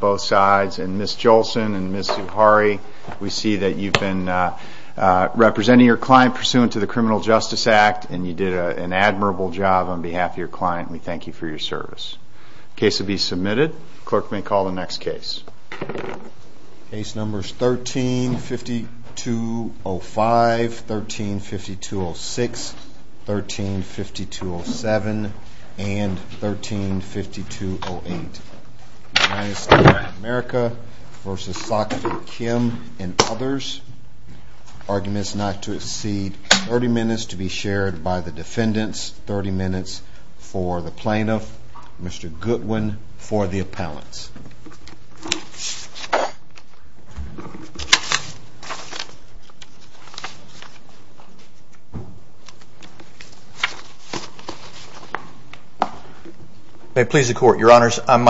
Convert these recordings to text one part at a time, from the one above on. both sides and Miss Jolse We see that you've been r an admirable job on behal We thank you for your ser numbers 13 52 05 13 52 06 America versus Kim and oth to exceed 30 minutes to b 30 minutes for the plaint Goodwin for the appellant the court. Your honors, M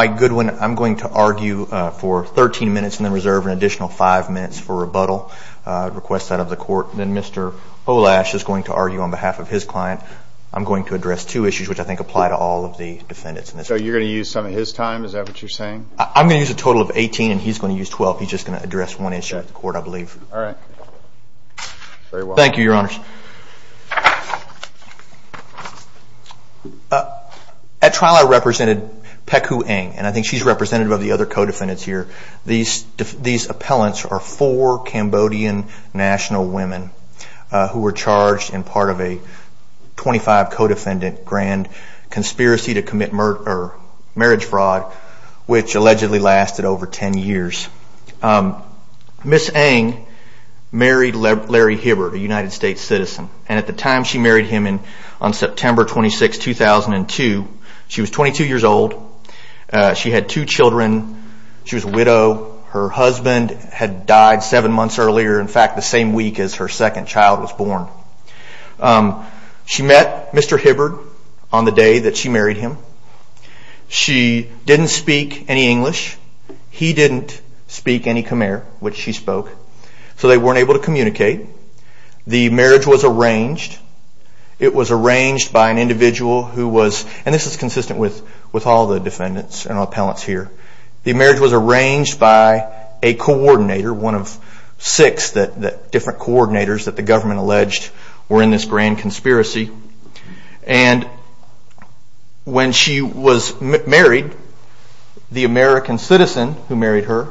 going to argue for 13 min out of the court. Then Mr argue on behalf of his cl two issues which I think the defendants. So you're his time. Is that what yo use a total of 18 and he' He's just going to addres court, I believe. All rig she's representative of t here. These these appellan national women who were c to commit murder marriage lasted over 10 years. Um, at the time she married h 2002. She was 22 years ol earlier. In fact, the sam child was born. Um she me him. She didn't speak any any Khmer, which she spok to communicate. The marria was arranged by an individ is consistent with with a and appellants here. The by a coordinator, one of coordinators that the gov were in this grand conspi was married, the american marriage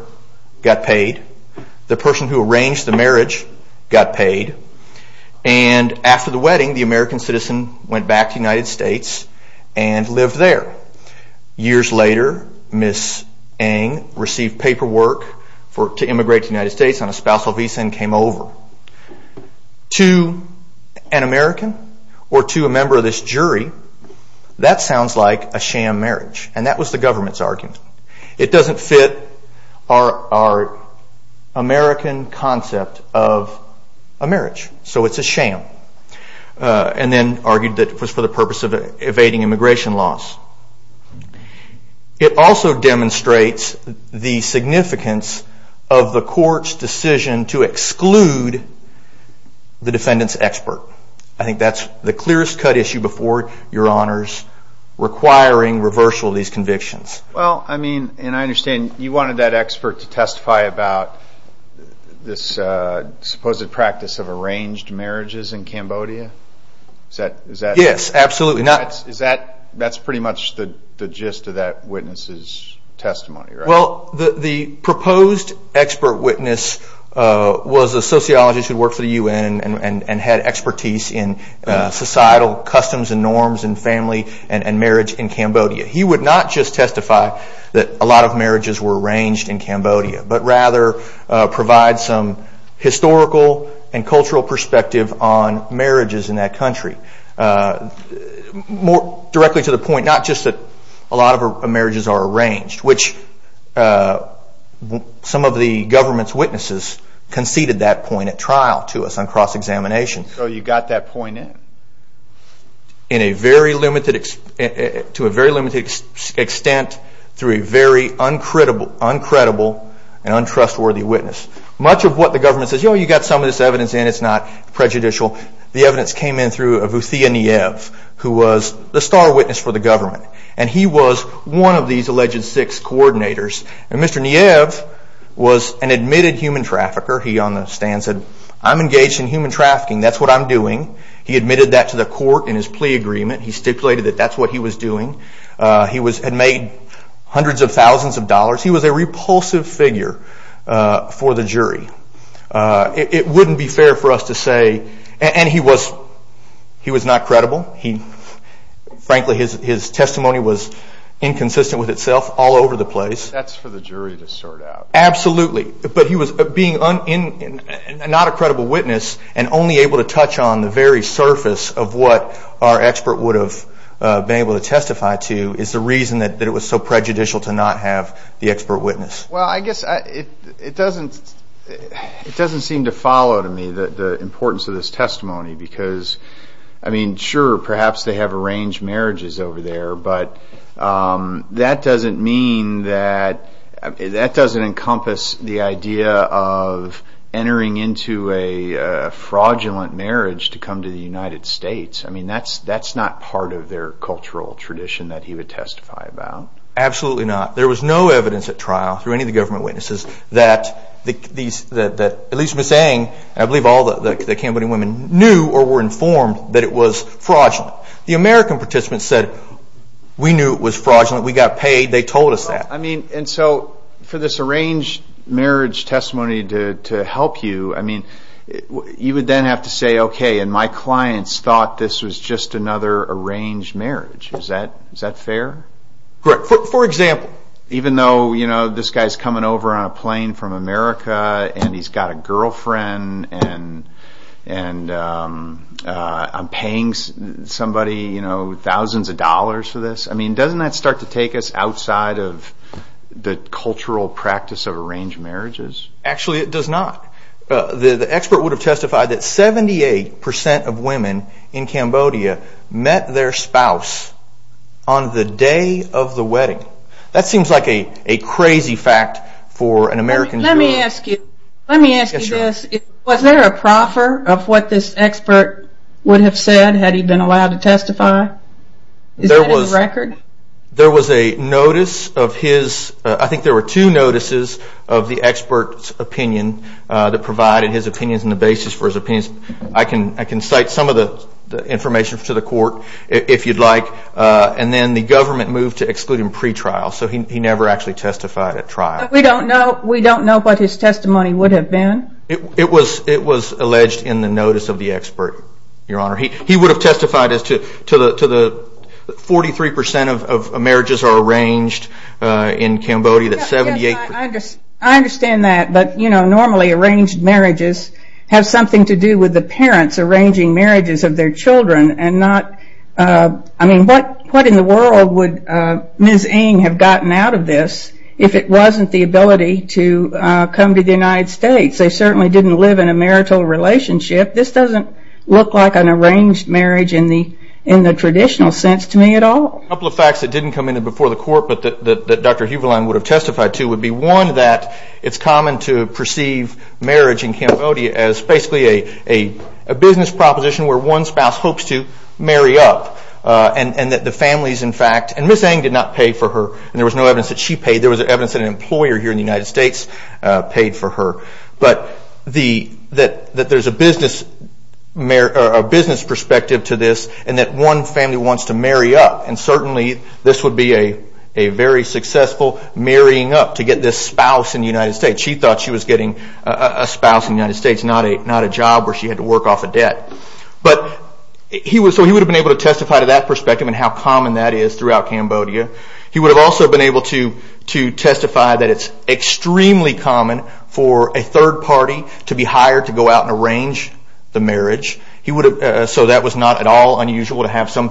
got paid. And af American citizen went bac and lived there. Years la received paperwork for to States on a spousal visa an American or to a membe sounds like a sham marria government's argument. It american concept of a mar sham. Uh and then argued the significance of the c I think that's the cleare your honors requiring rev Well, I mean, and I under that expert to testify ab practice of arranged marri that? Yes, absolutely. No Well, the proposed expert who worked for the U. N. in societal customs and n that a lot of marriages w but rather provide some h perspective on marriages a lot of marriages are ar uh some of the government point at trial to us on c you got that point in in a very limited extent thr uncredible and untrustwor of what the government sa of this evidence and it's The evidence came in thro who was the star witness and he was one of these a and Mr Niev was an admitte that's what I'm doing. He court in his plea agreeme that that's what he was d figure for the jury. Uh, was not credible. He frank all over the place. That' start out. Absolutely. Bu on the very surface of wh been able to testify to i it was so prejudicial to witness. Well, I guess it seem to follow to me the because I mean, sure, per mean that that doesn't in to the United States. I m not part of their cultura he would testify about. A was no evidence at trial witnesses that these, at I believe all the Cambodi were informed that it was participants said we knew we got paid. They told us so for this arranged marri you, I mean, you would th arranged marriage. Is tha guy is coming over on a p and he's got a girlfriend I'm paying somebody, you for this. I mean, doesn't us outside of the cultura marriages? Actually, it d would have testified that in Cambodia met their spo fact for an American. Let expert would have said ha to testify? There was a r a notice of his, I think of the expert's opinion t and the basis for his opi some of the information f you'd like. Uh, and then to exclude him pretrial. testified at trial. We do know what his testimony w It was, it was alleged in expert, your honor. He wo as to, to the, to the 43% arranged in Cambodia. Tha that. But you know, norma have something to do with marriages of their Childr what, what in the world w gotten out of this if it to come to the United Sta didn't live in a marital doesn't look like an arra the, in the traditional s of facts that didn't come court, but that Dr Huberl to would be one that it's marriage in Cambodia as b proposition where one spo up. Uh, and, and that the and missing did not pay f no evidence that she paye here in the United States but the, that there's a b perspective to this and t to marry up. And certainl a very successful marrying in the United States. She getting a spouse in the U a job where she had to wo he was, so he would have to that perspective and h throughout Cambodia. He w to testify that it's extr a third party to be hired the marriage. He would ha at all unusual to have so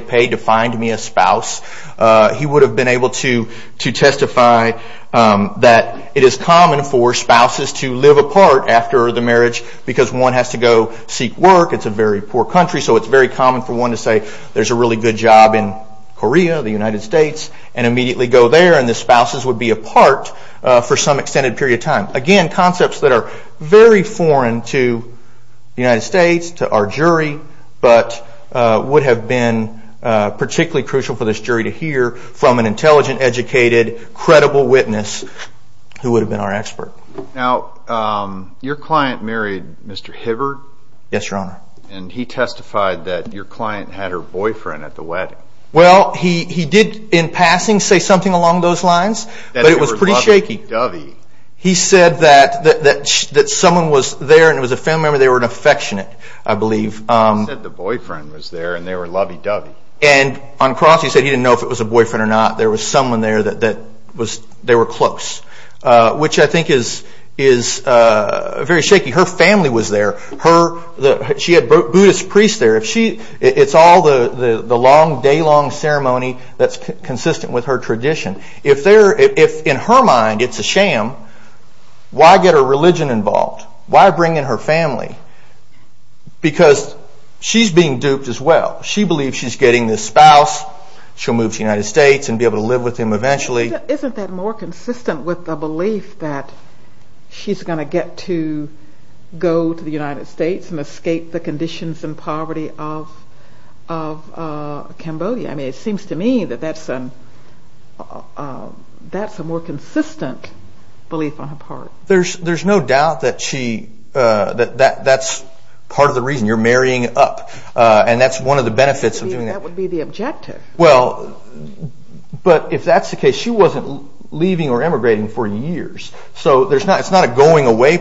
paid to find me a spouse. able to, to testify that spouses to live apart afte one has to go seek work. country. So it's very com say there's a really good States and immediately go would be apart for some e Again, concepts that are United States to our jury been particularly crucial hear from an intelligent, witness who would have be client married Mr Hibberd he testified that your cl at the wedding. Well, he say something along those pretty shaky. He said tha there and it was a family affectionate. I believe u was there and they were l cross. He said he didn't or not. There was someone were close, which I think Her family was there. Her there, if she it's all th ceremony that's consisten If there, if in her mind, get her religion involved family? Because she's bein believe she's getting thi United States and be able eventually. Isn't that mo belief that she's going t States and escape the con of of Cambodia. I mean, i that's an uh that's a mor on her part. There's no d that that's part of the r up. Uh and that's one of doing that would be the o if that's the case, she w for years. So there's not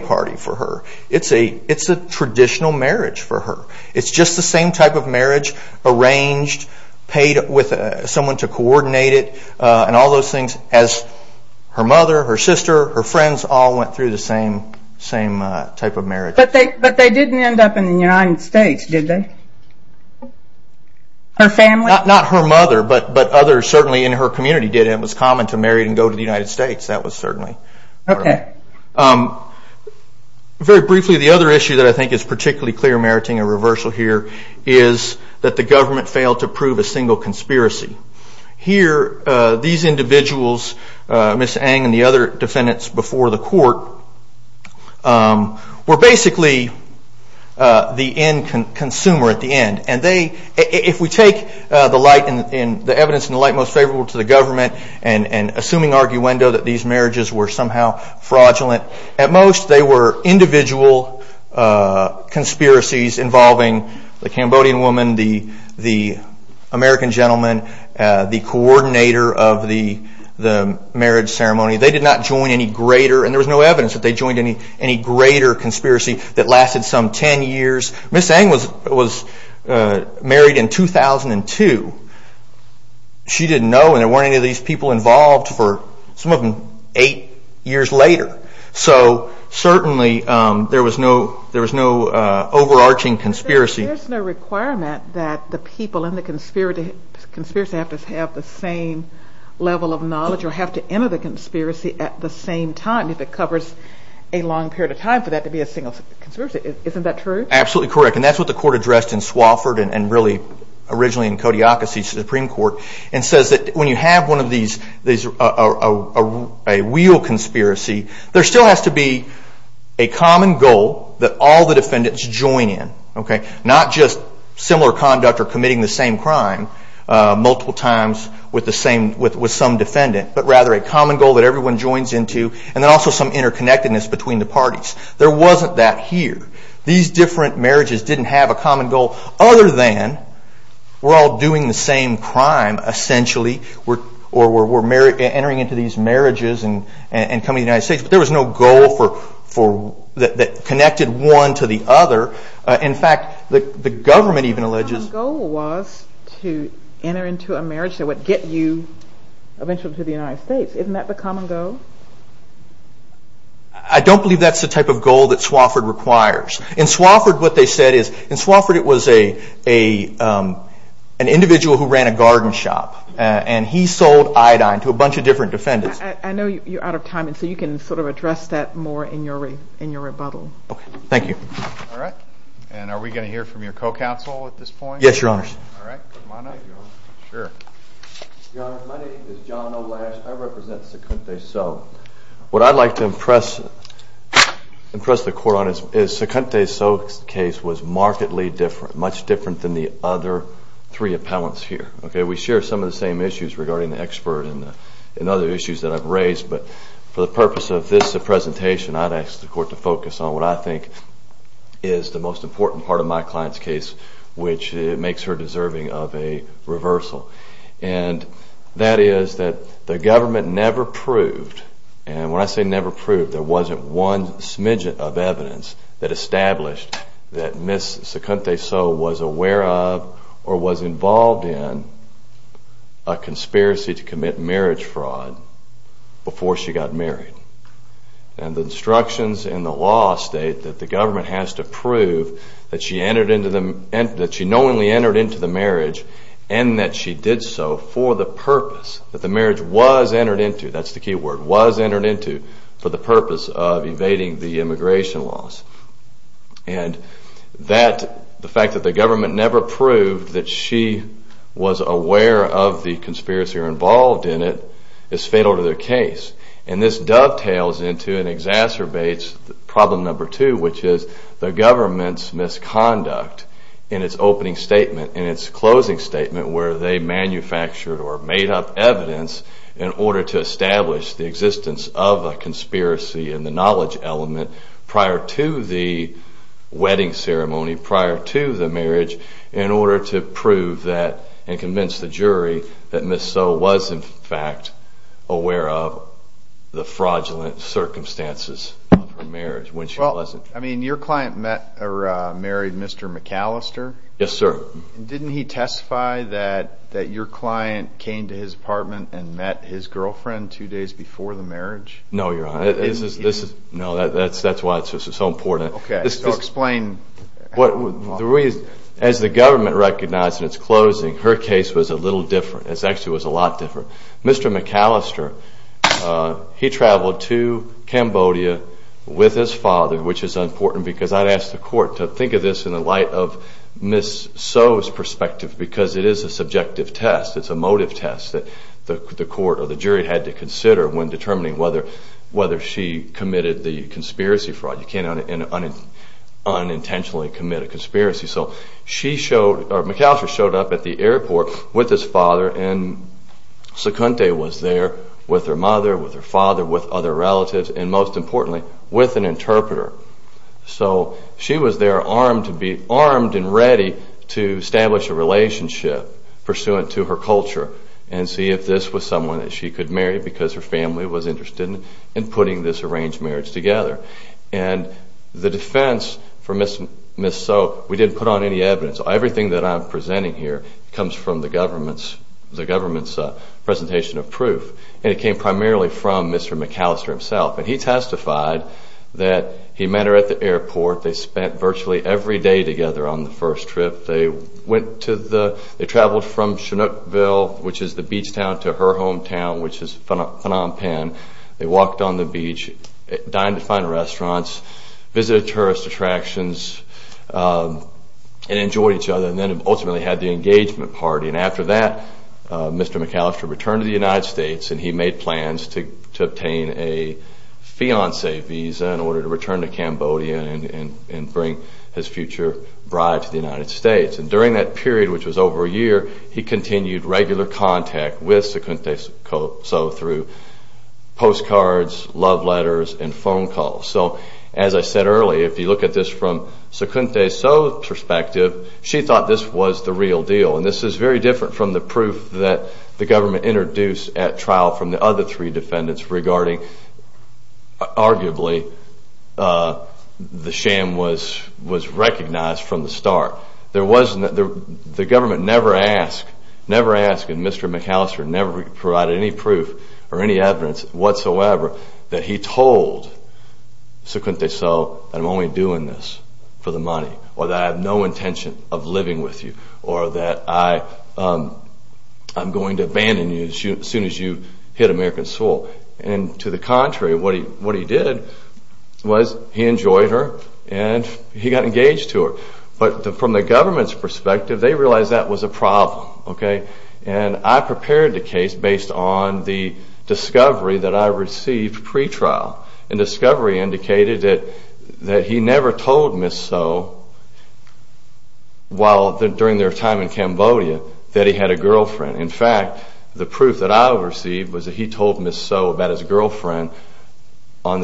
party for her. It's a it' for her. It's just the sa arranged, paid with someo and all those things as h her friends all went thro of marriage. But they but in the United States, did not her mother, but but o her community did. It was and go to the United Stat that was certainly okay. issue that I think is par a reversal here is that t to prove a single conspir individuals, Mr Ang and t before the court. Um we'r consumer at the end and t in the evidence in the li to the government and and these marriages were some they were individual uh c the Cambodian woman, the, the coordinator of the, t They did not join any gre evidence that they joined that lasted some 10 years was married in 2000 and 2 weren't any of these peop of them eight years later was no there was no overa There's no requirement th conspiracy have to have t of knowledge or have to e at the same time if it co of time for that to be a Isn't that true? Absolut that's what the court add and really originally in Supreme Court and says th one of these, these are a there still has to be a c the defendants join in, o conduct or committing the times with the same with, but rather a common goal into and then also some i between the parties. Ther different marriages didn' have a common goal other the same crime essentiall entering into these marri United States. But there that connected one to the government even alleges g into a marriage that would to the United States. Is' I don't believe that's th Swofford requires in Swoff is in Swofford. It was a, a garden shop and he sold different defendants. I k of time. And so you can s more in your, in your rebu you. All right. And are w your co council at this p All right. Sure. My name I represent. So what I'd impress the court on is s was markedly different, m other three appellants he some of the same issues r and other issues that I'v purpose of this presentat court to focus on what I important part of my clie makes her deserving of a is that the government ne And when I say never prov one smidgen of evidence t miss second day. So was a in a conspiracy to commit she got married and the i the law state that the go that she entered into the entered into the marriage so for the purpose that t that's the key word was e purpose of evading the im that the fact that the go that she was aware of the in it is fatal to their c into an exacerbates proble is the government's misco statement in its closing they manufactured or made to establish the existenc and the knowledge element ceremony prior to the mar that and convince the juri in fact aware of the frog marriage when she wasn't. met or married Mr McAllist Yes sir. Didn't he testify came to his apartment and two days before the marri this is no, that's that's Okay. Explain what the re recognized in its closing little different. It's ac different. Mr McAllister, Cambodia with his father, because I'd ask the court in the light of Miss so's it is a subjective test. that the court or the jur determining whether, wheth the conspiracy fraud, you commit a conspiracy. So s showed up at the airport Seconde was there with he father, with other relati with an interpreter. So s be armed and ready to esta pursuant to her culture a someone that she could ma was interested in putting together. And the defense we didn't put on any evid that I'm presenting here the government's presenta it came primarily from Mr And he testified that he They spent virtually every first trip. They went to Chinookville, which is th hometown, which is phenom on the beach, dine to fin tourist attractions, um, and then ultimately had t And after that, Mr McAllis and he made plans to obta his future bride to the U that period, which was ov regular contact with Seco postcards, love letters a as I said early, if you l so perspective, she thoug deal. And this is very di that the government introd the other three defendants uh, the sham was, was rec start. There wasn't the g Never ask. And Mr McAllis any proof or any evidence he told, so couldn't they this for the money or tha of living with you or tha abandon you as soon as yo And to the contrary, what he enjoyed her and he got from the government's pers that was a problem. Okay. case based on the discover pre trial and discovery i that he never told Miss S their time in Cambodia, t In fact, the proof that I he told Miss so about his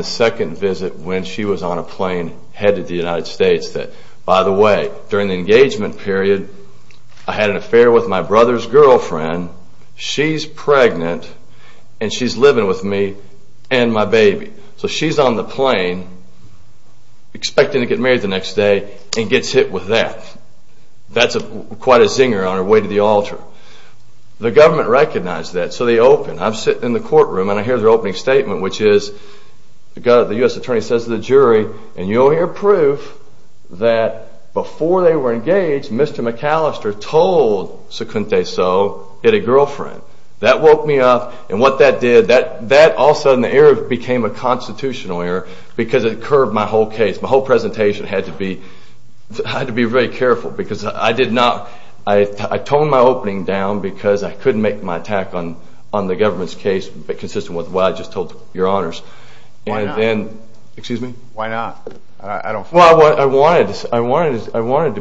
second visit when she was the United States that by the engagement period, I my brother's girlfriend, she's living with me and So she's on the plane expe next day and gets hit with a zinger on her way to th recognized that. So they the courtroom and I hear which is the U. S. Attorne and you'll hear proof tha Mr McAllister told, so co girlfriend that woke me u that also in the area bec error because it curved m presentation had to be, h because I did not, I tone I couldn't make my attack case consistent with what honors. And then excuse m I wanted, I wanted, I wan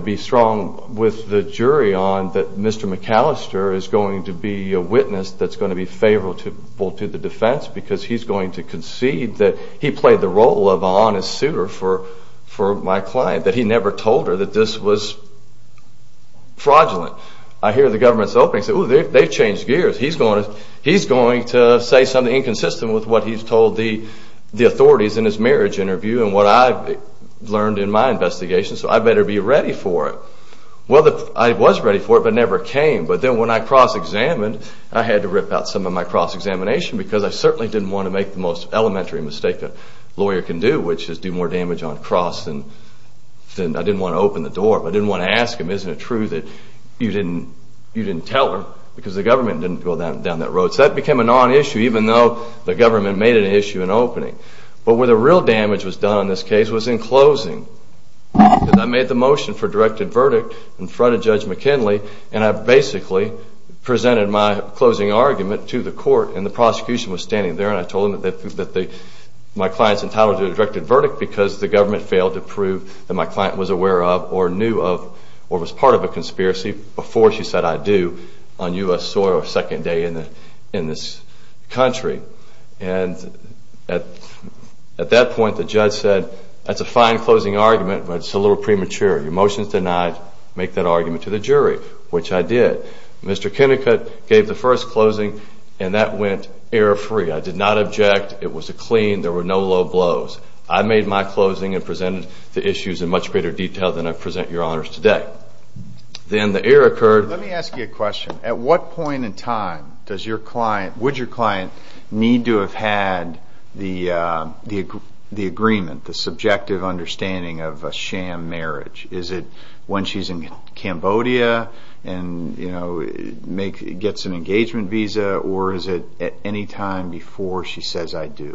with the jury on that Mr to be a witness that's go to the defense because he that he played the role o for my client that he nev this was fraudulent. I he opening said, oh, they've going to, he's going to s with what he's told the, his marriage interview an in my investigation. So I for it. Well, I was ready came. But then when I cro I had to rip out some of because I certainly didn' most elementary mistake t which is do more damage o I didn't want to open the want to ask him, isn't it didn't tell her because t go down, down that road. issue, even though the go an issue in opening. But was done in this case was made the motion for direc judge McKinley. And I bas closing argument to the c was standing there and I that my clients entitled because the government fa my client was aware of or part of a conspiracy befo on U. S. Soil second day And at that point, the ju closing argument, but it' Your motions denied, make to the jury, which I did. first closing and that we not object. It was a clean blows. I made my closing in much greater detail th today. Then the air occur a question. At what point client, would your client the, the, the agreement, understanding of a sham m she's in Cambodia and, yo an engagement visa or is she says I do?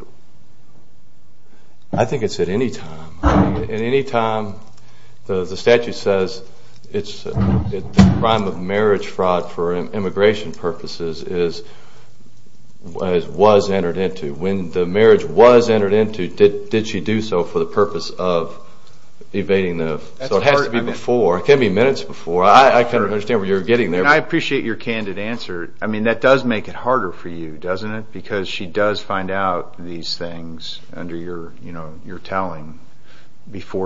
I think it any time the statute says of marriage fraud for imm is was entered into when into, did she do so for t the, so it has to be befo before. I kind of underst getting there. I apprecia I mean, that does make it it? Because she does find under your, you know, you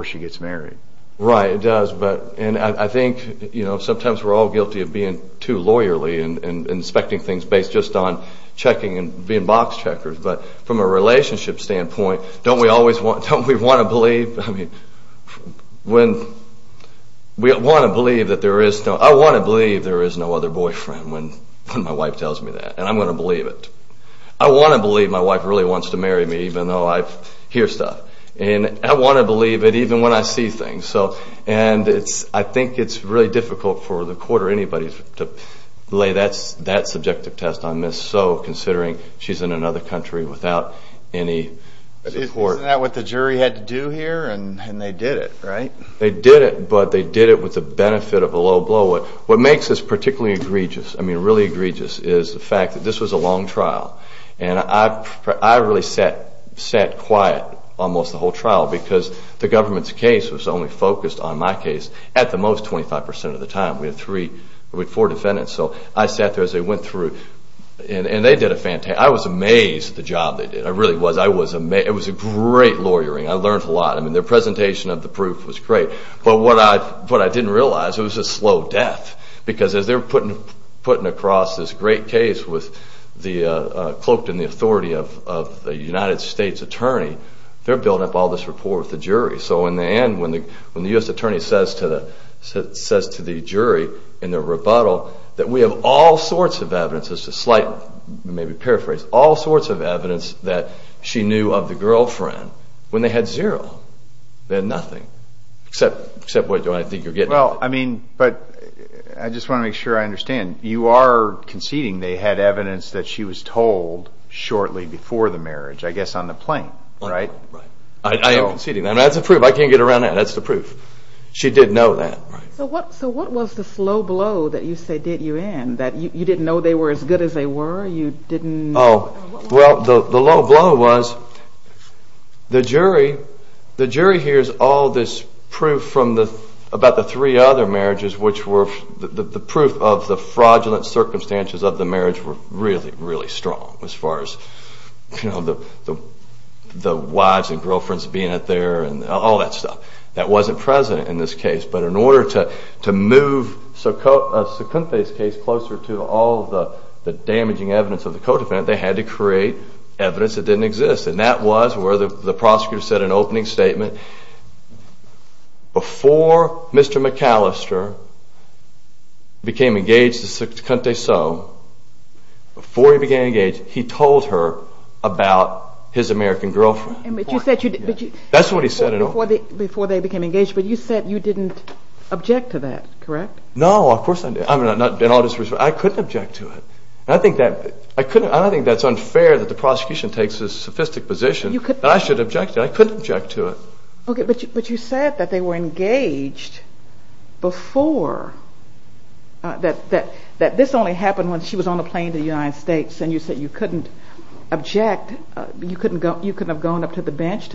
she gets married, right? know, sometimes we're all lawyerly and inspecting t on checking and being box from a relationship stand want, don't we want to be want to believe that ther believe there is no other my wife tells me that and it. I want to believe my to marry me even though I I want to believe it even So, and it's, I think it' for the quarter. Anybody test on this. So consider she's in another country that what the jury had to did it, right? They did i with the benefit of a low is particularly egregious is the fact that this was I, I really sat, sat quie trial because the governm focused on my case at the time. We have three, we h So I sat there as they wen I was amazed at the job t was, I was amazed. It was I learned a lot. I mean t of the proof was great. B realize it was a slow dea putting, putting across t the cloaked in the author attorney, they're building with the jury. So in the attorney says to the, say in the rebuttal that we h slight maybe paraphrase a that she knew of the girl zero. They had nothing ex I think you're getting. W just want to make sure I conceding they had evidenc shortly before the marria plane, right? Right. I am the proof. I can't get ar the proof. She did know t was the slow blow that you that you didn't know they were. You didn't. Well, t jury, the jury here is al the about the three other were the proof of the fra of the marriage were real far as you know, the, th being out there and all t president in this case. B to move. So Sukuntha's ca the damaging evidence of had to create evidence th that was where the prosec statement before Mr McAlis Sukuntha. So before he be told her about his America said, that's what he said became engaged. But you s object to that, correct? I'm not, I couldn't objec that I couldn't. I think t the prosecution takes a s I should object. I couldn' but you said that they we that that this only happe on the plane to the Unite you couldn't object. You have gone up to the bench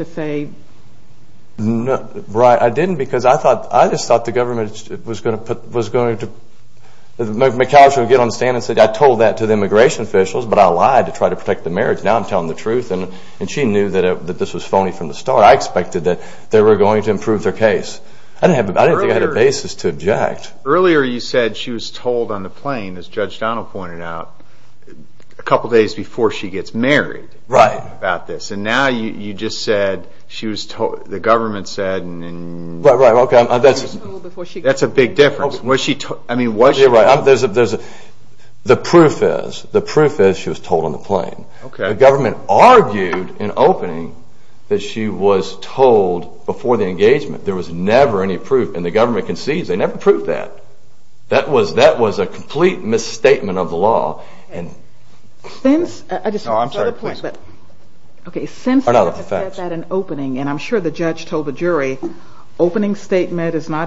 I didn't because I thought government was going to p would get on the stand an to the immigration officia to try to protect the mar the truth. And she knew t from the start. I expecte to improve their case. I had a basis to object. Ea was told on the plane, as out a couple of days befo about this. And now you j government said, that's a she took? I mean, what's proof is, the proof is sh plane. The government arg she was told before the e never any proof and the g never proved that. That w misstatement of the law a I'm sorry, please. Okay, opening and I'm sure the opening statement is not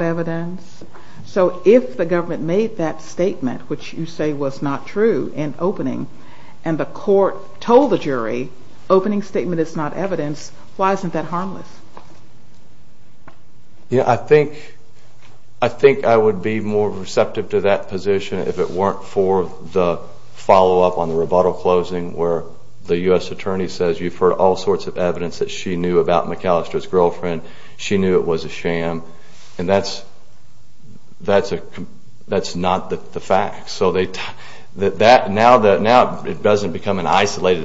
the government made that you say was not true in o told the jury opening stat Why isn't that harmless? Yeah, I think I think I w to that position if it we up on the rebuttal closin attorney says you've hear that she knew about McAlis knew it was a sham and th not the fact. So they, th it doesn't become an isola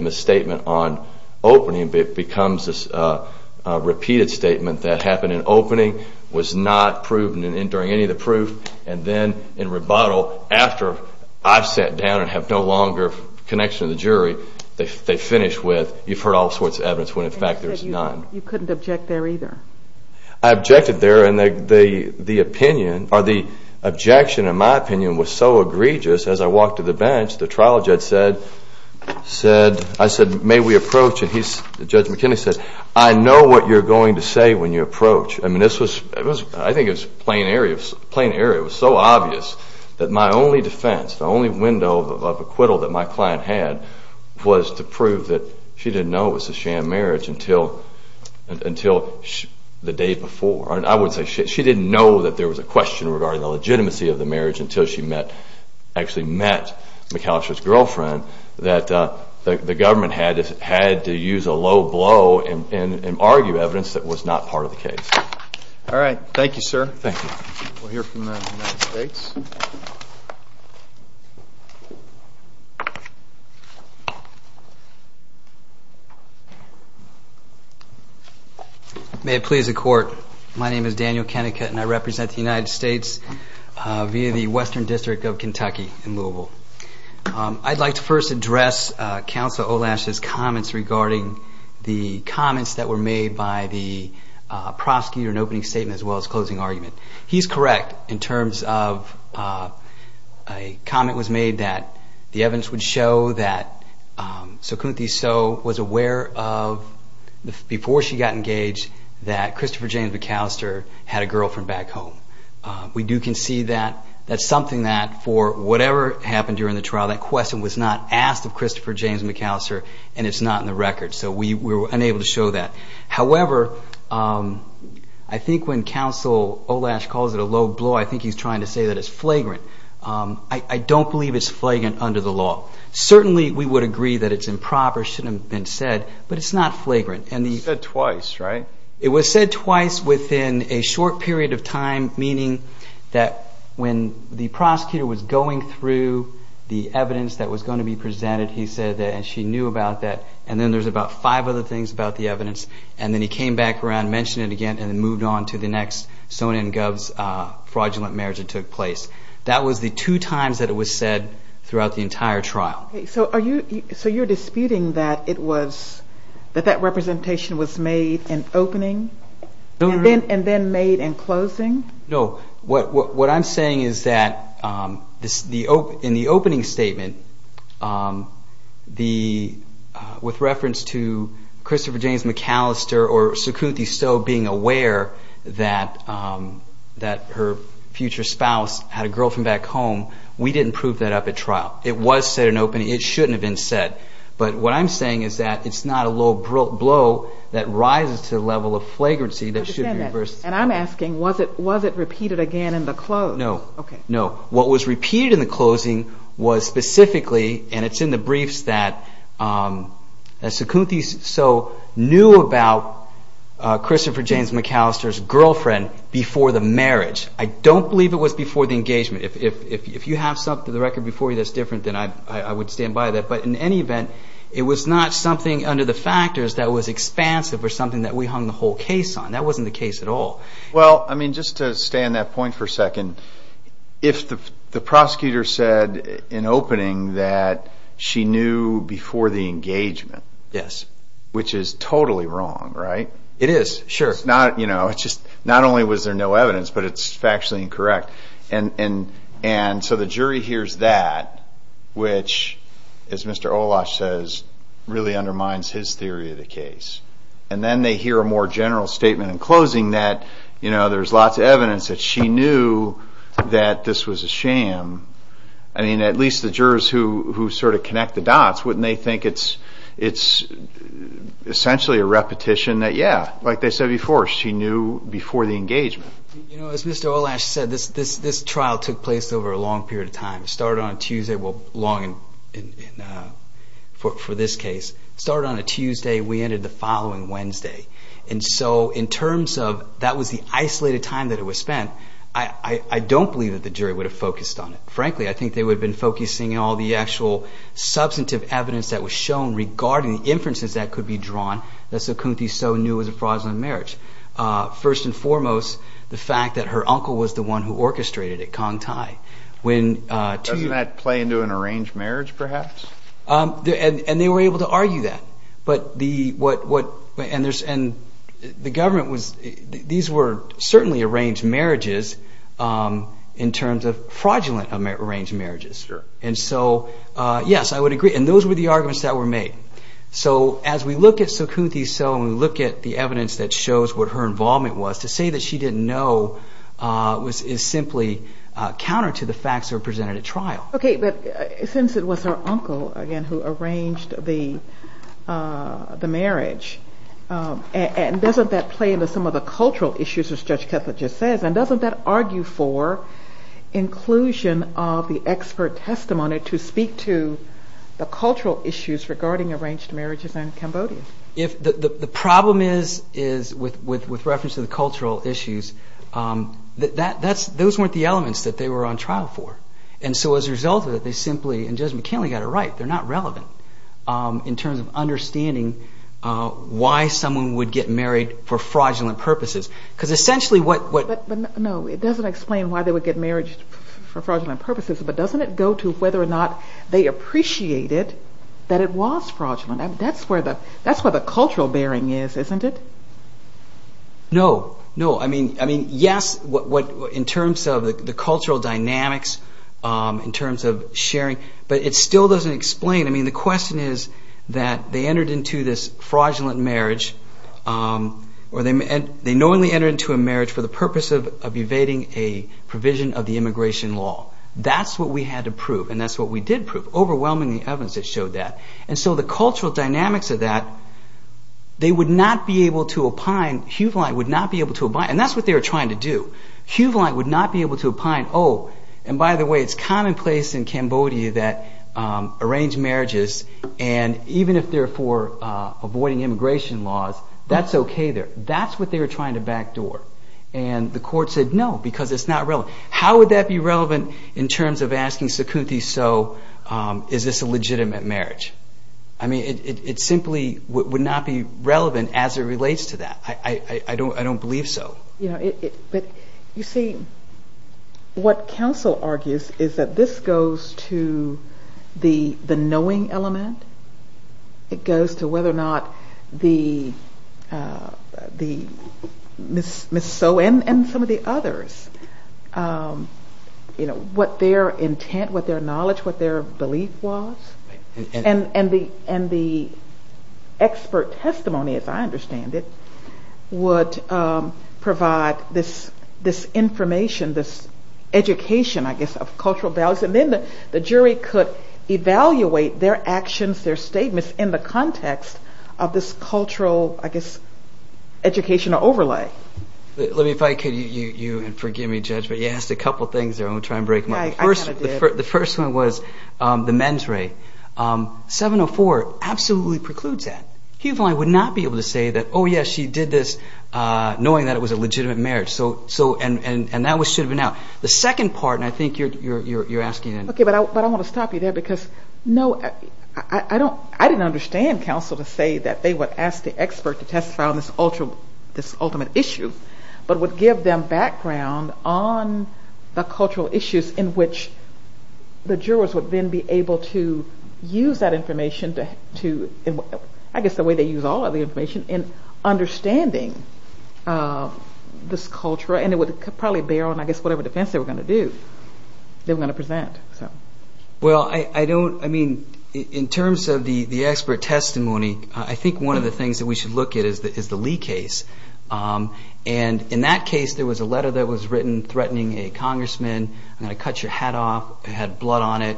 on opening becomes this r happened in opening was n any of the proof. And the after I've sat down and h of the jury, they finish all sorts of evidence whe none. You couldn't object there and the opinion or opinion was so egregious trial judge said, said, I and he's judge McKinney s you're going to say when this was, I think it's pl was so obvious that my on window of acquittal that to prove that she didn't marriage until until the say she didn't know that regarding the legitimacy she met actually met McAli that the government had h and argue evidence that w case. All right. Thank yo here from the States. May My name is Daniel Kennec the United States via the Kentucky in Louisville. U address Council Olash's c comments that were made b an opening statement as w He's correct in terms of the evidence would show t was aware of before she g James McAllister had a gi We do can see that that's whatever happened during was not asked of Christof and it's not in the record to show that. However, um Olash calls it a low blow to say that it's flagrant it's flagrant under the l agree that it's improper, but it's not flagrant. An It was said twice within meaning that when the pro through the evidence that he said that she knew abo there's about five other evidence and then he came it again and moved on to fraudulent marriage that the two times that it was entire trial. So are you? that it was that that rep made an opening and then No, what I'm saying is th statement, um, the, uh, w James McAllister or Sukru that, um, that her future from back home. We didn't trial. It was set an open But what I'm saying is th blow that rises to the le should be reversed. And I it repeated again in the was repeated in the closi and it's in the briefs th so knew about Christopher it was before the engagem have something to the rec I would stand by that. B was not something under t expansive or something th case on. That wasn't the I mean, just to stay on t if the prosecutor said in knew before the engagemen wrong, right? It is sure. only was there no evidenc and and so the jury hears Ola says really undermines case. And then they hear and closing that, you kno evidence that she knew th I mean, at least the jur connect the dots, wouldn' it's essentially a repeti they said before she knew You know, as Mr Olash sai took place over a long pe on a Tuesday. Well, long started on a Tuesday. We Wednesday. And so in term isolated time that it was believe that the jury wou it. Frankly, I think they in all the actual substan was shown regarding the i be drawn. That's a country knew it was a fraudulent foremost, the fact that h who orchestrated it. Cong play into an arranged mar they were able to argue t and the government was, t arranged marriages, um, i arranged marriages. And s And those were the argume were made. So as we look we look at the evidence t involvement was to say th is simply counter to the at trial. Okay. But since again, who arranged the u doesn't that play into so issues as judge catholic that argue for inclusion the expert testimony to s issues regarding arranged If the problem is, is wit to the cultural issues. U weren't the elements that for. And so as a result of and Judge McKinley got it relevant. Um, in terms of someone would get married because essentially what, explain why they would ge fraudulent purposes. But whether or not they appre fraudulent. That's where bearing is, isn't it? No, what, in terms of the cul terms of sharing, but it I mean, the question is t this fraudulent marriage entered into a marriage f a provision of the immigr what we had to prove. And prove overwhelmingly evid And so the cultural dynam not be able to opine. Hu to abide. And that's what to do. Hugh line would no Oh, and by the way, it's that arrange marriages. for avoiding immigration there. That's what they w back door. And the court it's not relevant. How wo in terms of asking Sakuti marriage? I mean, it simp relevant as it relates to believe so. You know, but argues is that this goes to the, the knowing elem whether or not the, uh, t some of the others, um, y intent, what their knowled was. And, and the, and th as I understand it, would information, this educatio the jury could evaluate t statements in the context I guess, educational over I could you and forgive m a couple of things. I'm g my first, the first one w Um, 704 absolutely preclu would not be able to say did this, uh, knowing tha marriage. So, so, and, a The second part, and I th it. Okay. But I, but I wa because no, I don't, I di to say that they would as on this ultra, this ultima give them background on t in which the jurors would that information to, I gu use all of the information in understanding, uh, thi would probably bear on, I they were going to do. Th So, well, I don't, I mean testimony, I think one of should look at is the, is in that case, there was a threatening a congressman hat off, had blood on it.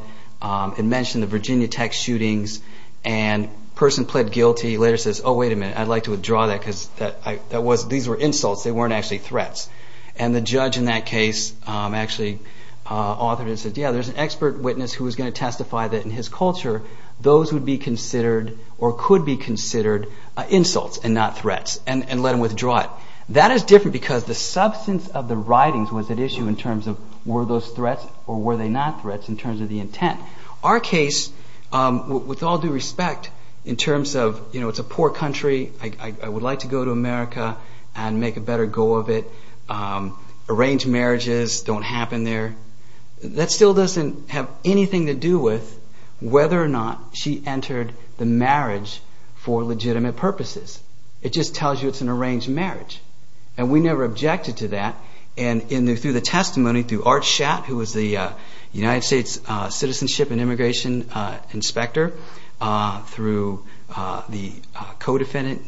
Virginia Tech shootings a says, oh, wait a minute, that because that was, th They weren't actually thr in that case, actually au there's an expert witness that in his culture, those or could be considered in and let him withdraw it. because the substance of issue in terms of were th they not threats in terms Our case, um, with all du of, you know, it's a poor like to go to America and of it. Um, arranged marri there. That still doesn't do with whether or not sh for legitimate purposes. it's an arranged marriage to that. And in through t who was the United States uh, inspector, uh, throug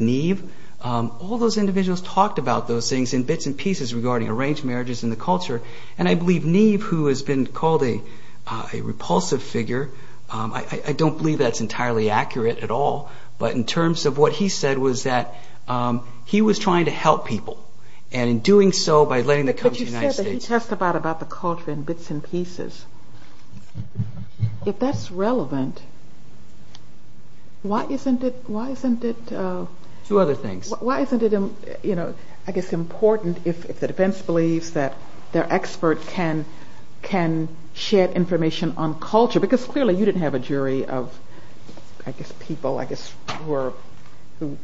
Neve. Um, all those indiv those things in bits and marriages in the culture. who has been called a rep believe that's entirely a in terms of what he said trying to help people and to come to the United Sta about the culture and bit that's relevant, why isn' uh, two other things. Whi I guess important if the that their expert can, ca on culture because clearl a jury of, I guess people who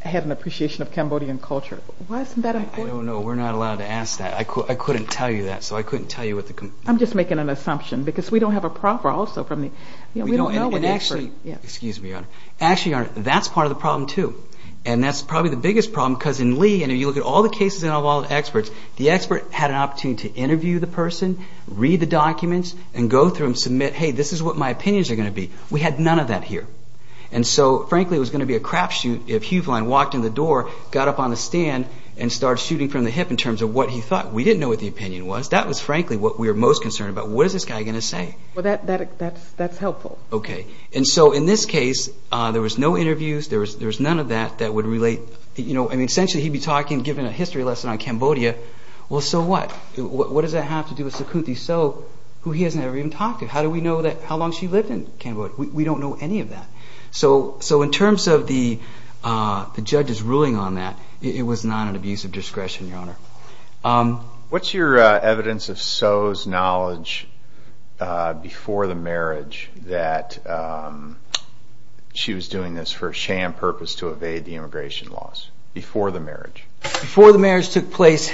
had an appreciation o wasn't that important? No to ask that. I couldn't t I couldn't tell you what an assumption because we also from the, we don't k me on. Actually, that's p too. And that's probably because in Lee and you lo of all the experts, the e to interview the person, and go through and submit my opinions are going to of that here. And so fran be a crapshoot. If you've up on the stand and start hip in terms of what he t what the opinion was. Tha we're most concerned abou going to say? Well, that' And so in this case, uh, There was, there's none o relate, you know, I mean, be talking, given a histor Well, so what, what does Sakuti? So who he hasn't How do we know that how l We don't know any of that So, so in terms of the, u on that, it was not an ab your honor. Um, what's yo knowledge before the marr was doing this for sham p immigration laws before t the marriage took place.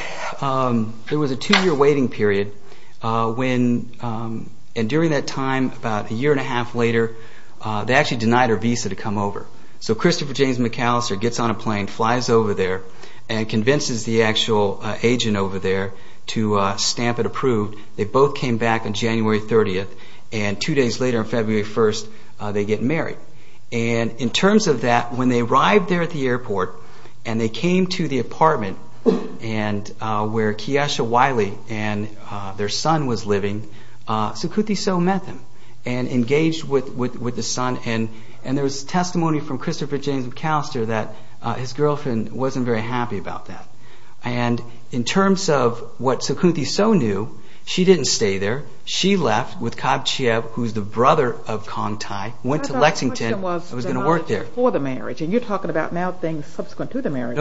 year waiting period. Uh, that time, about a year a denied her visa to come o James McAllister gets on there and convinces the a there to stamp it approve back on january 30th and february 1st, they get ma of that, when they arrived and they came to the apar Keisha Wiley and their so Sakuti. So met them and e son. And, and there was t James McAllister that his very happy about that. An Sakuti. So knew she didn' with Khabchiyev, who's th went to Lexington. I was the marriage and you're t subsequent to the marriag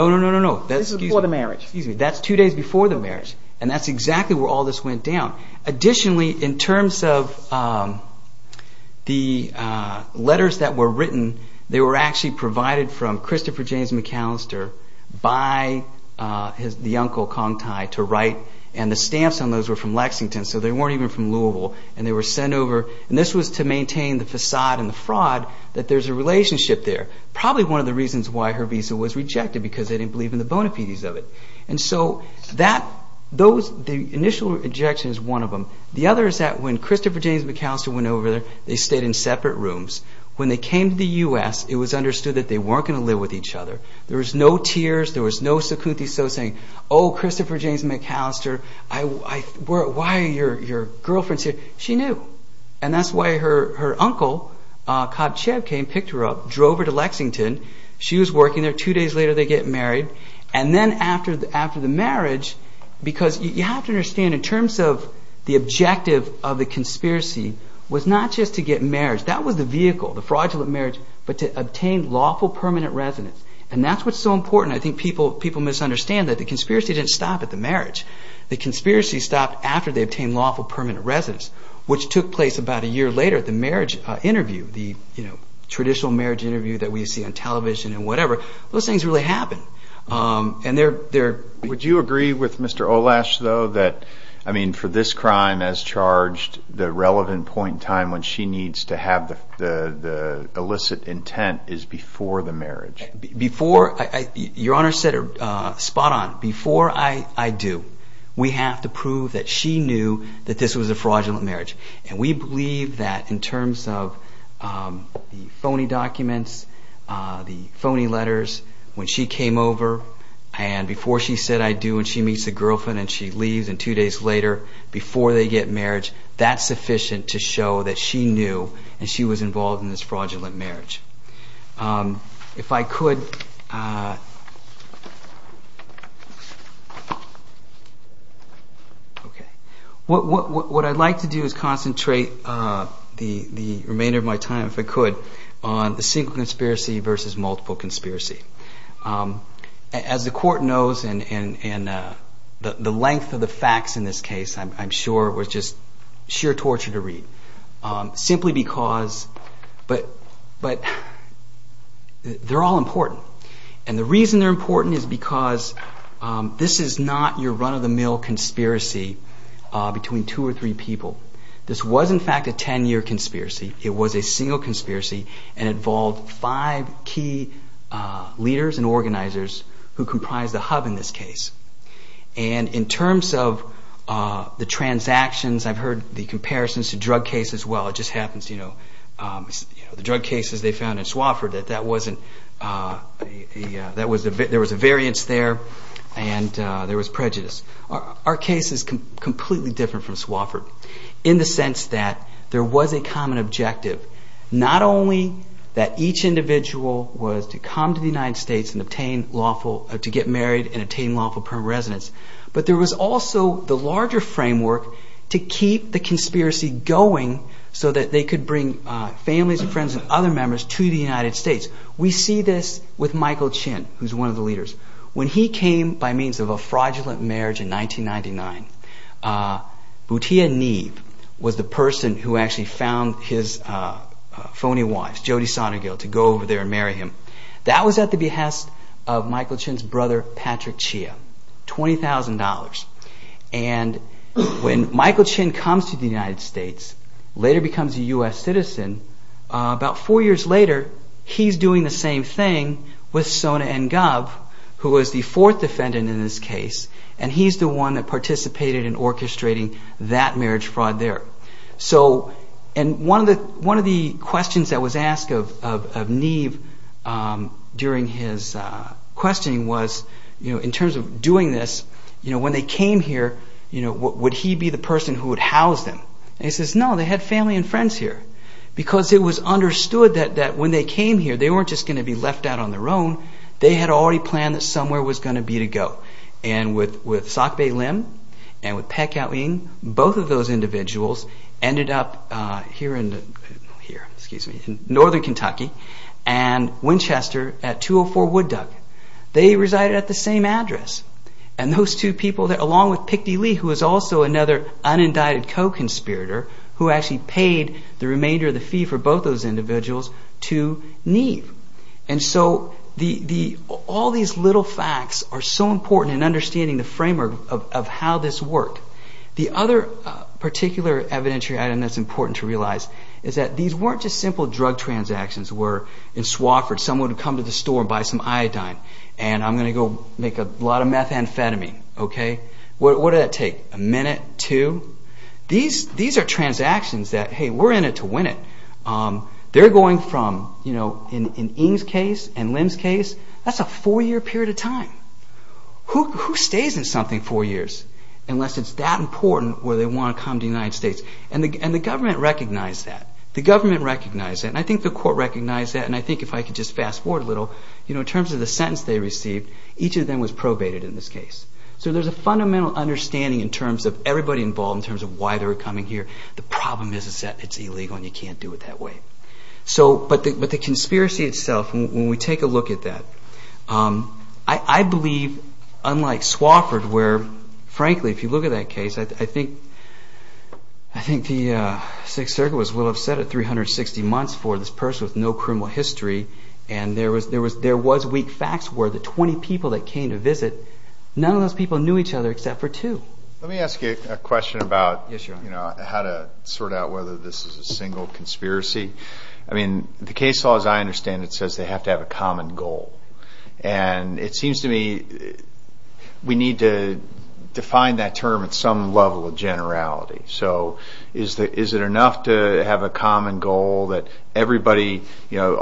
the marriage. That's two And that's exactly where Additionally, in terms of were written, they were a from Christopher James Mc uncle Kong Thai to write. those were from Lexington from Louisville and they this was to maintain the that there's a relationsh one of the reasons why he because they didn't belie of it. And so that those is one of them. The other James McAllister went ove in separate rooms when th it was understood that th live with each other. The was no Sakuti. So saying McAllister, I were, why y here? She knew. And that' Khabchiyev came, picked h Lexington. She was workin later they get married. A the marriage, because you in terms of the objective was not just to get marria vehicle, the fraudulent m lawful permanent residence so important. I think peop that the conspiracy didn't The conspiracy stopped af lawful permanent residence about a year later, the m the traditional marriage we see on television and really happened. Um, and you agree with Mr Olash t for this crime as charged time when she needs to ha intent is before the marri said, spot on before I do that she knew that this w marriage. And we believe of the phony documents, t when she came over and be do when she meets the gir and two days later before that's sufficient to show was involved in this frau the remainder of my time single conspiracy versus Um, as the court knows, a the facts in this case, I sheer torture to read um, but, but they're all impo they're important is beca your run of the mill cons two or three people. This conspiracy. It was a sing five key leaders and organ the hub in this case. And the transactions, I've hea to drug cases. Well, it j know, um, you know, the d there was a variance there Our case is completely di in the sense that there w Not only that each individ to the United States and to get married and attain But there was also the la keep the conspiracy going bring families and friend to the United States. We chin, who's one of the le when he came by means of in 1999, uh, Boutia need w actually found his phony to go over there and marr the behest of Michael Chin Chia $20,000. And when Mi the United States later b about four years later, h same thing with Sona and defendant in this case. A participated in orchestr fraud there. So, and one that was asked of, of, of was, you know, in terms o when they came here, you be the person who would h no, they had family and f it was understood that th just going to be left out had already planned that be to go. And with, with Peck out in both of those up here in here, excuse m and Winchester at 204 Woo at the same address. And along with pick D. Lee, w unindicted co conspirator the remainder of the fee individuals to need. And little facts are so impor the framework of how this evidentiary item that's i is that these weren't just were in Swafford. Someone and buy some iodine and I a lot of methamphetamine. take a minute to these, t that, hey, we're in it to going from, you know, in limb's case, that's a fou time. Who, who stays in s unless it's that importan to come to the United Stat recognize that the govern I think the court recogniz if I could just fast forw in terms of the sentence of them was probated in t a fundamental understanding involved in terms of why The problem is that it's do it that way. So, but t itself, when we take a lo believe, unlike Swafford if you look at that case, the Sixth Circuit was wil months for this person wi And there was, there was, the 20 people that came t those people knew each ot Let me ask you a question how to sort out whether t I mean, the case laws, I they have to have a common to me, we need to define level of generality. So i to have a common goal tha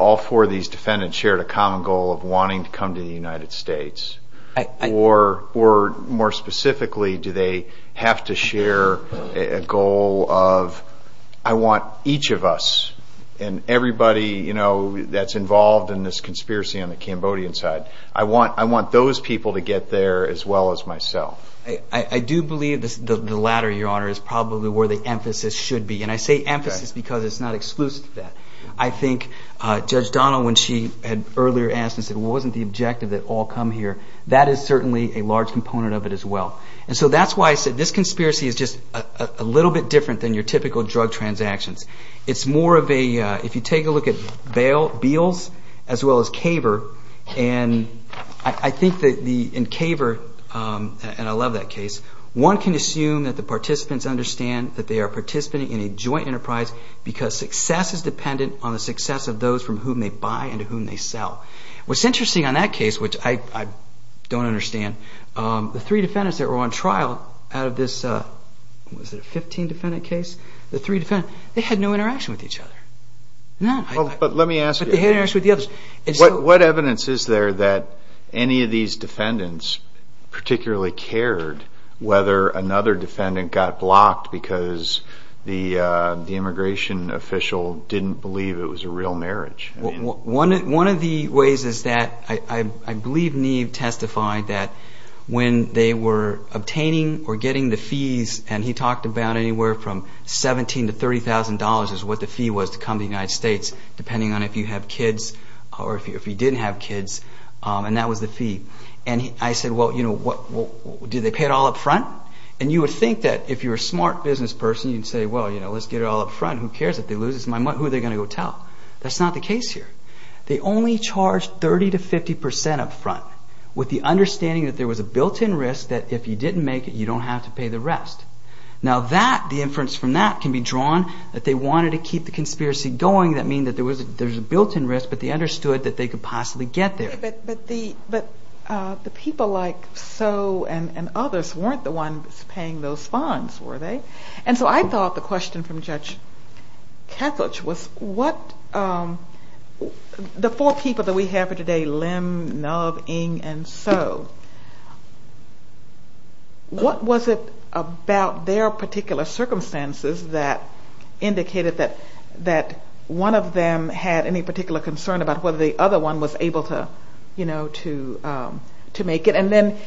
all four of these defenda goal of wanting to come t or more specifically, do a goal of, I want each of you know, that's involved on the Cambodian side. I to get there as well as m this, the latter, your hon the emphasis should be. A because it's not exclusiv Donald, when she had earl wasn't the objective that here. That is certainly a of it as well. And so tha is just a little bit diff drug transactions. It's m take a look at bail bills and I think that the in c that case, one can assume understand that they are a joint enterprise because on the success of those f and whom they sell. What' that case, which I don't defendants that were on t a 15 defendant case, the had no interaction with e me ask you, what evidence of these defendants partic another defendant got blo immigration official, did a real marriage. One of t I believe Neve testified obtaining or getting the about anywhere from 17 to the fee was to come to th on if you have kids or if kids. Um, and that was th well, you know what, do t And you would think that person, you'd say, well, it all up front. Who care who they're going to go t the case here. They only up front with the underst a built in risk that if y you don't have to pay the inference from that can b to keep the conspiracy go there was a, there's a bu understood that they coul there. But the, but the p and others weren't the on were they? And so I thought from Judge Catholic was w that we have today, limb, was it about their partic that indicated that, that any particular concern ab one was able to, you know then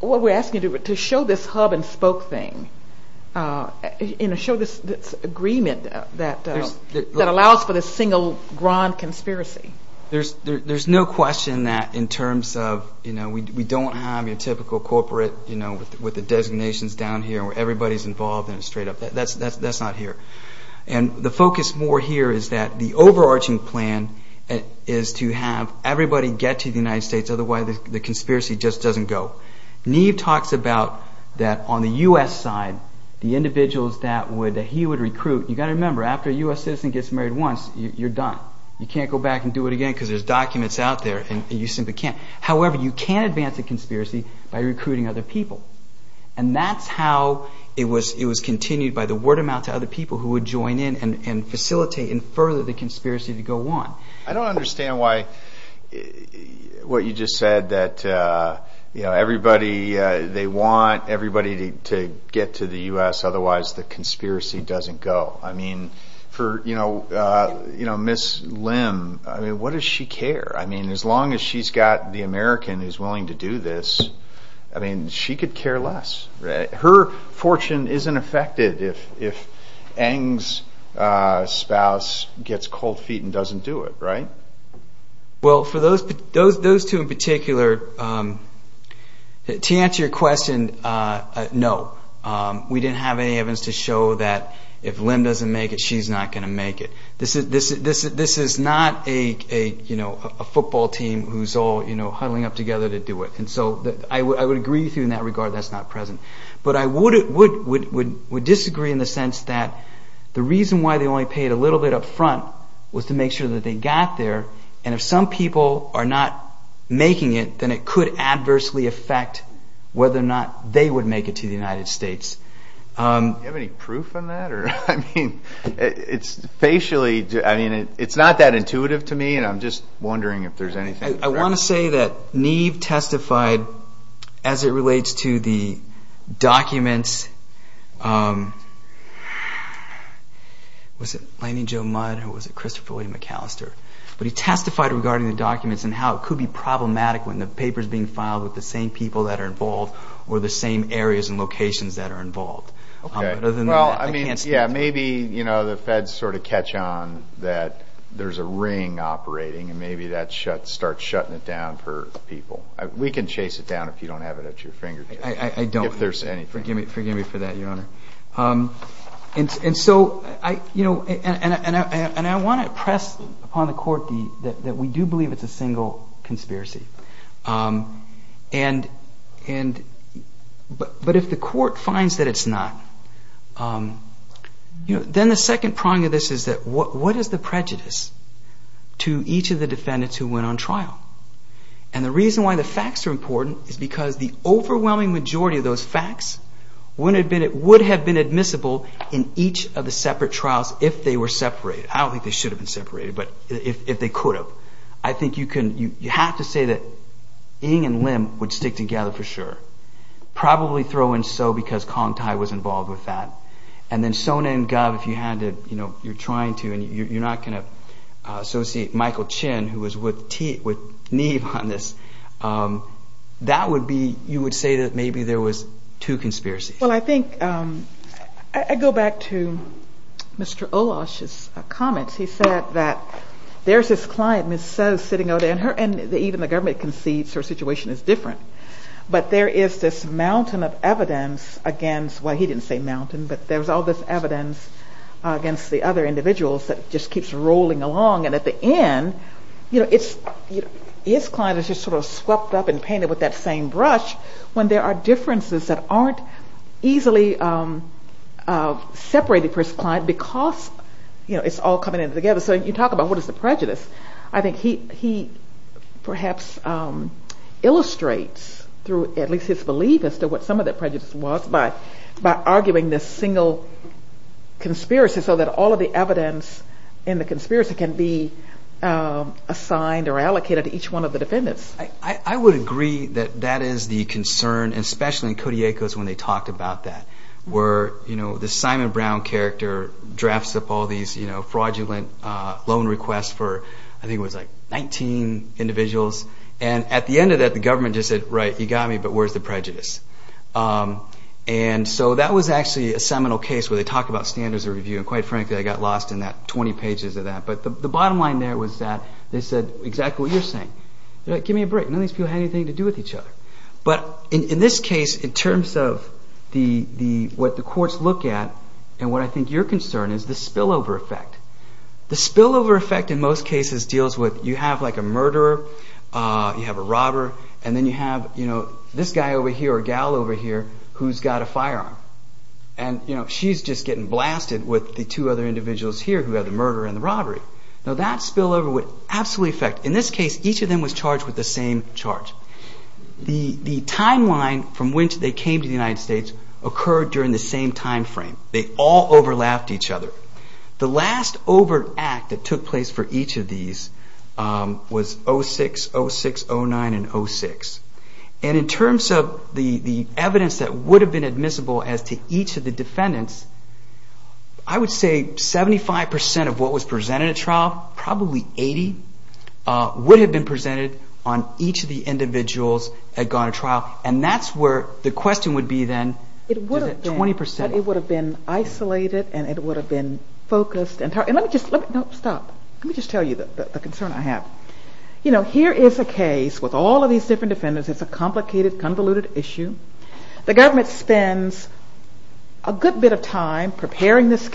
what we're asking yo hub and spoke thing, uh, agreement that, that allo grand conspiracy. There's that in terms of, you kno typical corporate, you kn down here where everybody straight up. That's, that' the focus more here is th plan is to have everybody States. Otherwise the cons just doesn't go. Neve tal the U. S. Side, the indivi he would recruit. You got a U. S. Citizen gets marr You can't go back and do there's documents out the can't. However, you can ad by recruiting other peopl it was, it was continued to other people who would and further the conspiracy I don't understand why wh uh, you know, everybody, to get to the U. S. Othew doesn't go. I mean for, y limb, I mean, what does s long as she's got the Ame to do this, I mean she co fortune isn't affected. I uh, spouse gets cold feet right? Well, for those, t um, to answer your questi have any evidence to show make it, she's not going this, this, this is not a all, you know, huddling u And so I would agree with that's not present. But I in the sense that the reas paid a little bit up fron that they got there. And not making it, then it co whether or not they would States. Um, you have any I mean, it's facially, I intuitive to me and I'm j anything. I want to say t as it relates to the docu joe mud, who was it? Chri But he testified regardin how it could be problemat being filed with the same or the same areas and loc Okay. Well, I mean, yeah, the feds sort of catch on operating and maybe that shutting it down for peop down if you don't have it I don't think there's any me for that, your honor. know, and I want to press that we do believe it's a And, and, but if the court not, um, you know, then t of this is that what is t defendants who went on tr why the facts are importa majority of those facts w would have been admissible trials if they were separa they should have been sepa could have. I think you c say that being in limb wo for sure. Probably throw was involved with that. A if you had to, you know, and you're not going to a chin who was with T with would be, you would say t two conspiracies. Well, I to Mr Olof's comments. He his client missus sitting the government concedes he is different. But there i evidence against what he but there's all this evid individuals that just kee And at the end, you know, just sort of swept up and same brush when there are aren't easily, um, uh, se because, you know, it's a So you talk about what is he, he perhaps, um, illus his belief as to what som was by, by arguing this s the evidence in the consp or allocated to each one I would agree that that i in Cody Echoes when they were, you know, the simon up all these, you know, f for, I think it was like at the end of that, the g right, you got me, but wh Um, and so that was actuall standards of review. And got lost in that 20 pages bottom line there was tha you're saying, give me a people have anything to d in this case, in terms of look at and what I think the spillover effect, the most cases deals with, yo Uh, you have a robber and you know, this guy over h who's got a firearm and y getting blasted with the here who had the murder a that spillover would abso case, each of them was ch charge. The timeline from to the United States occu time frame. They all over The last over act that to of these, um, was 060609 in terms of the evidence admissible as to each of would say 75% of what was probably 80 would have be of the individuals had go where the question would it would have been isolat been focused and let me j Let me just tell you that have, you know, here is a a complicated, convoluted spends a good bit of time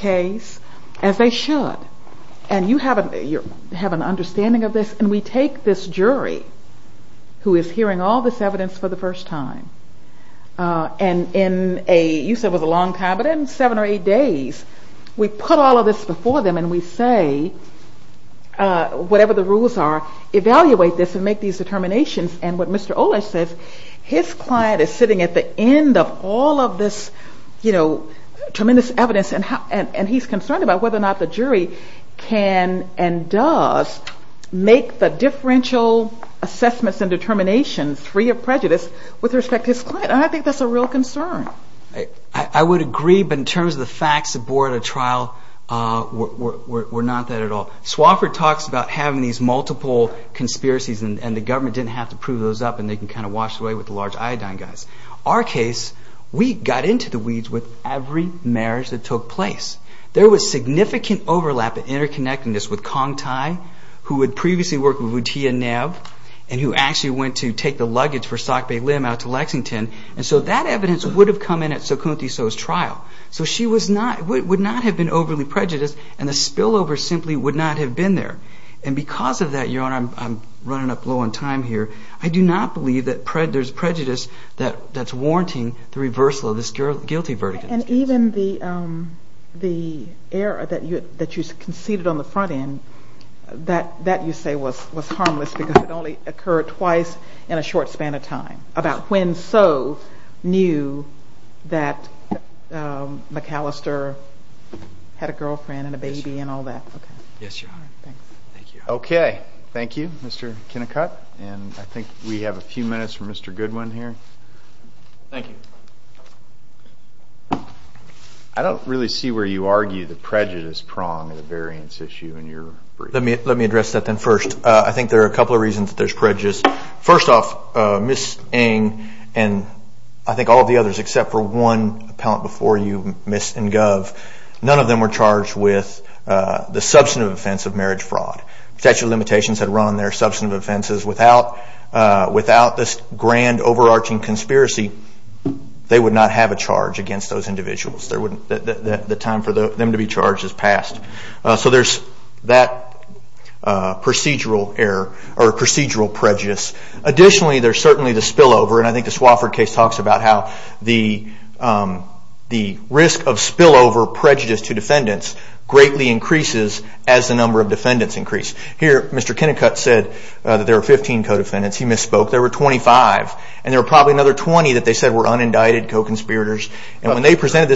case as they should. And an understanding of this jury who is hearing all t first time. Uh, and in a time, but in seven or eig all of this before them a the rules are, evaluate t and what Mr Ola says, his the end of all of this, y evidence and how, and he' whether or not the jury c the differential assessmen free of prejudice with re And I think that's a real agree. But in terms of th trial, uh, we're not that talks about having these and the government didn't up and they can kind of w large iodine guys. Our ca weeds with every marriage was significant overlap i with Kong Thai, who had p would Tia Nav and who act the luggage for sock Bay And so that evidence woul Sukunthi. So his trial, s not have been overly prej over simply would not hav And because of that, you'r up low on time here. I do prejudice that that's war of this guilty verdict. A that you that you concede that that you say was, wa only occurred twice in a about when. So knew that, Callister had a girlfriend all that. Okay. Yes. Okay And I think we have a few Goodwin here. Thank you. you argue the prejudice p issue in your, let me, le first. I think there are there's prejudice. First and I think all of the ot before you miss in gov. N with the substantive offe Statute of limitations ha offenses without without conspiracy, they would no those individuals. There for them to be charged as that procedural error or Additionally, there's cer over. And I think the Swa how the, um, the risk of to defendants greatly inc of defendants increase he said that there are 15 co There were 25 and there w 20 that they said were un And when they presented t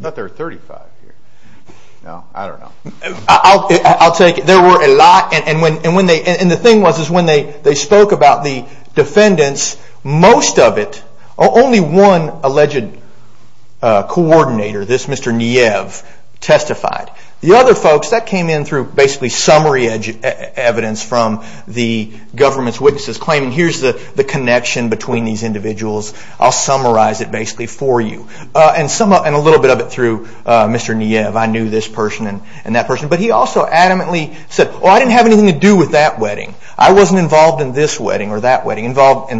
there are 35 here. No, I take it. There were a lot they, and the thing was, spoke about the defendants one alleged, uh, coordina testified. The other folk basically summary evidence witnesses claiming here's between these individuals. basically for you. Uh, an bit of it through Mr. Nee person and that person. B said, well, I didn't have wedding. I wasn't involve that wedding involved in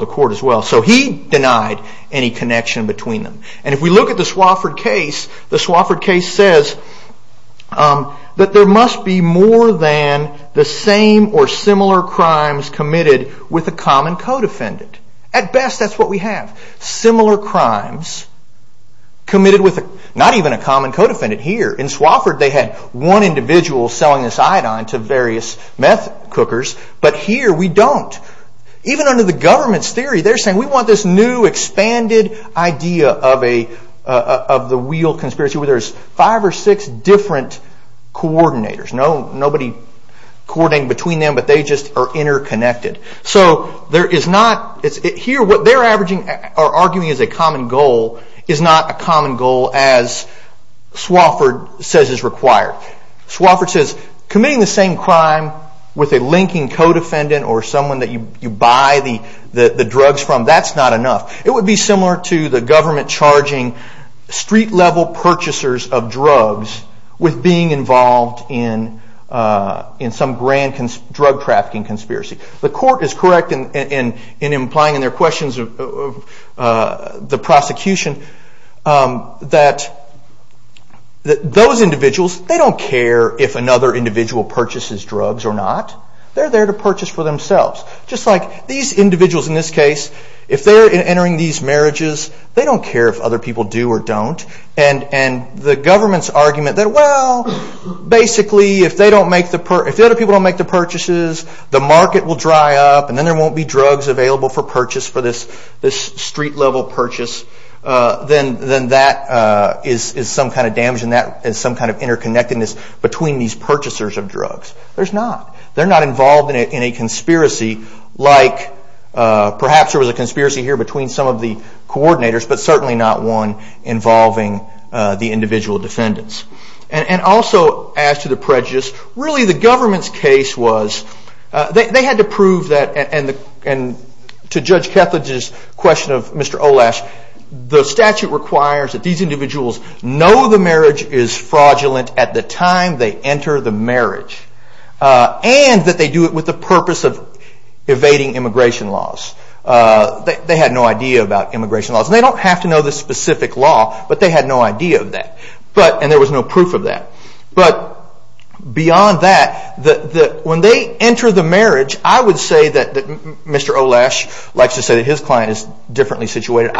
the court as well. So he between them. And if we l case, the Swofford case s be more than the same or with a common co defendant we have similar crimes co even a common co defendant they had one individual s various meth cookers. But under the government's th we want this new expanded wheel conspiracy where th different coordinators. N between them, but they ju So there is not here what are arguing is a common g required. Swofford says c crime with a linking co d that you buy the drugs fr It would be similar to th street level purchasers o involved in, uh, in some conspiracy. The court is in their questions of, uh, that those individuals, t another individual purcha They're there to purchase like these individuals in they're entering these ma care if other people do o government's argument tha if they don't make the, i make the purchases, the m and then there won't be d for purchase for this, th Uh, then then that, uh, i in that as some kind of i these purchasers of drugs not involved in a conspir was a conspiracy here betw but certainly not one inv defendants. And also as t really the government's c to prove that and to Judg of Mr Olash, the statute individuals know the marr at the time they enter the they do it with the purpo laws. Uh, they had no ide laws. They don't have to law, but they had no idea and there was no proof of that, that when they enter say that Mr Olash likes t is differently situated.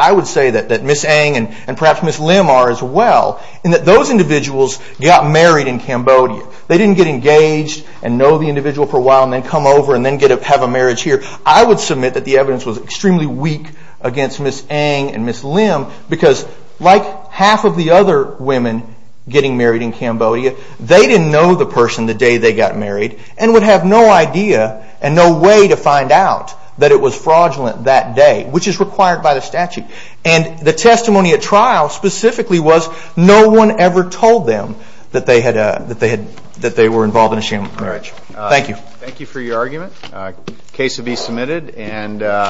Miss Ang and perhaps Miss that those individuals go They didn't get engaged an for a while and then come have a marriage here. I w evidence was extremely we Miss Ang and Miss Lim beca other women getting marrie didn't know the person th and would have no idea an that it was fraudulent th by the statute. And the t specifically was no one e they had, that they had, in a sham marriage. Thank for your argument. Uh, ca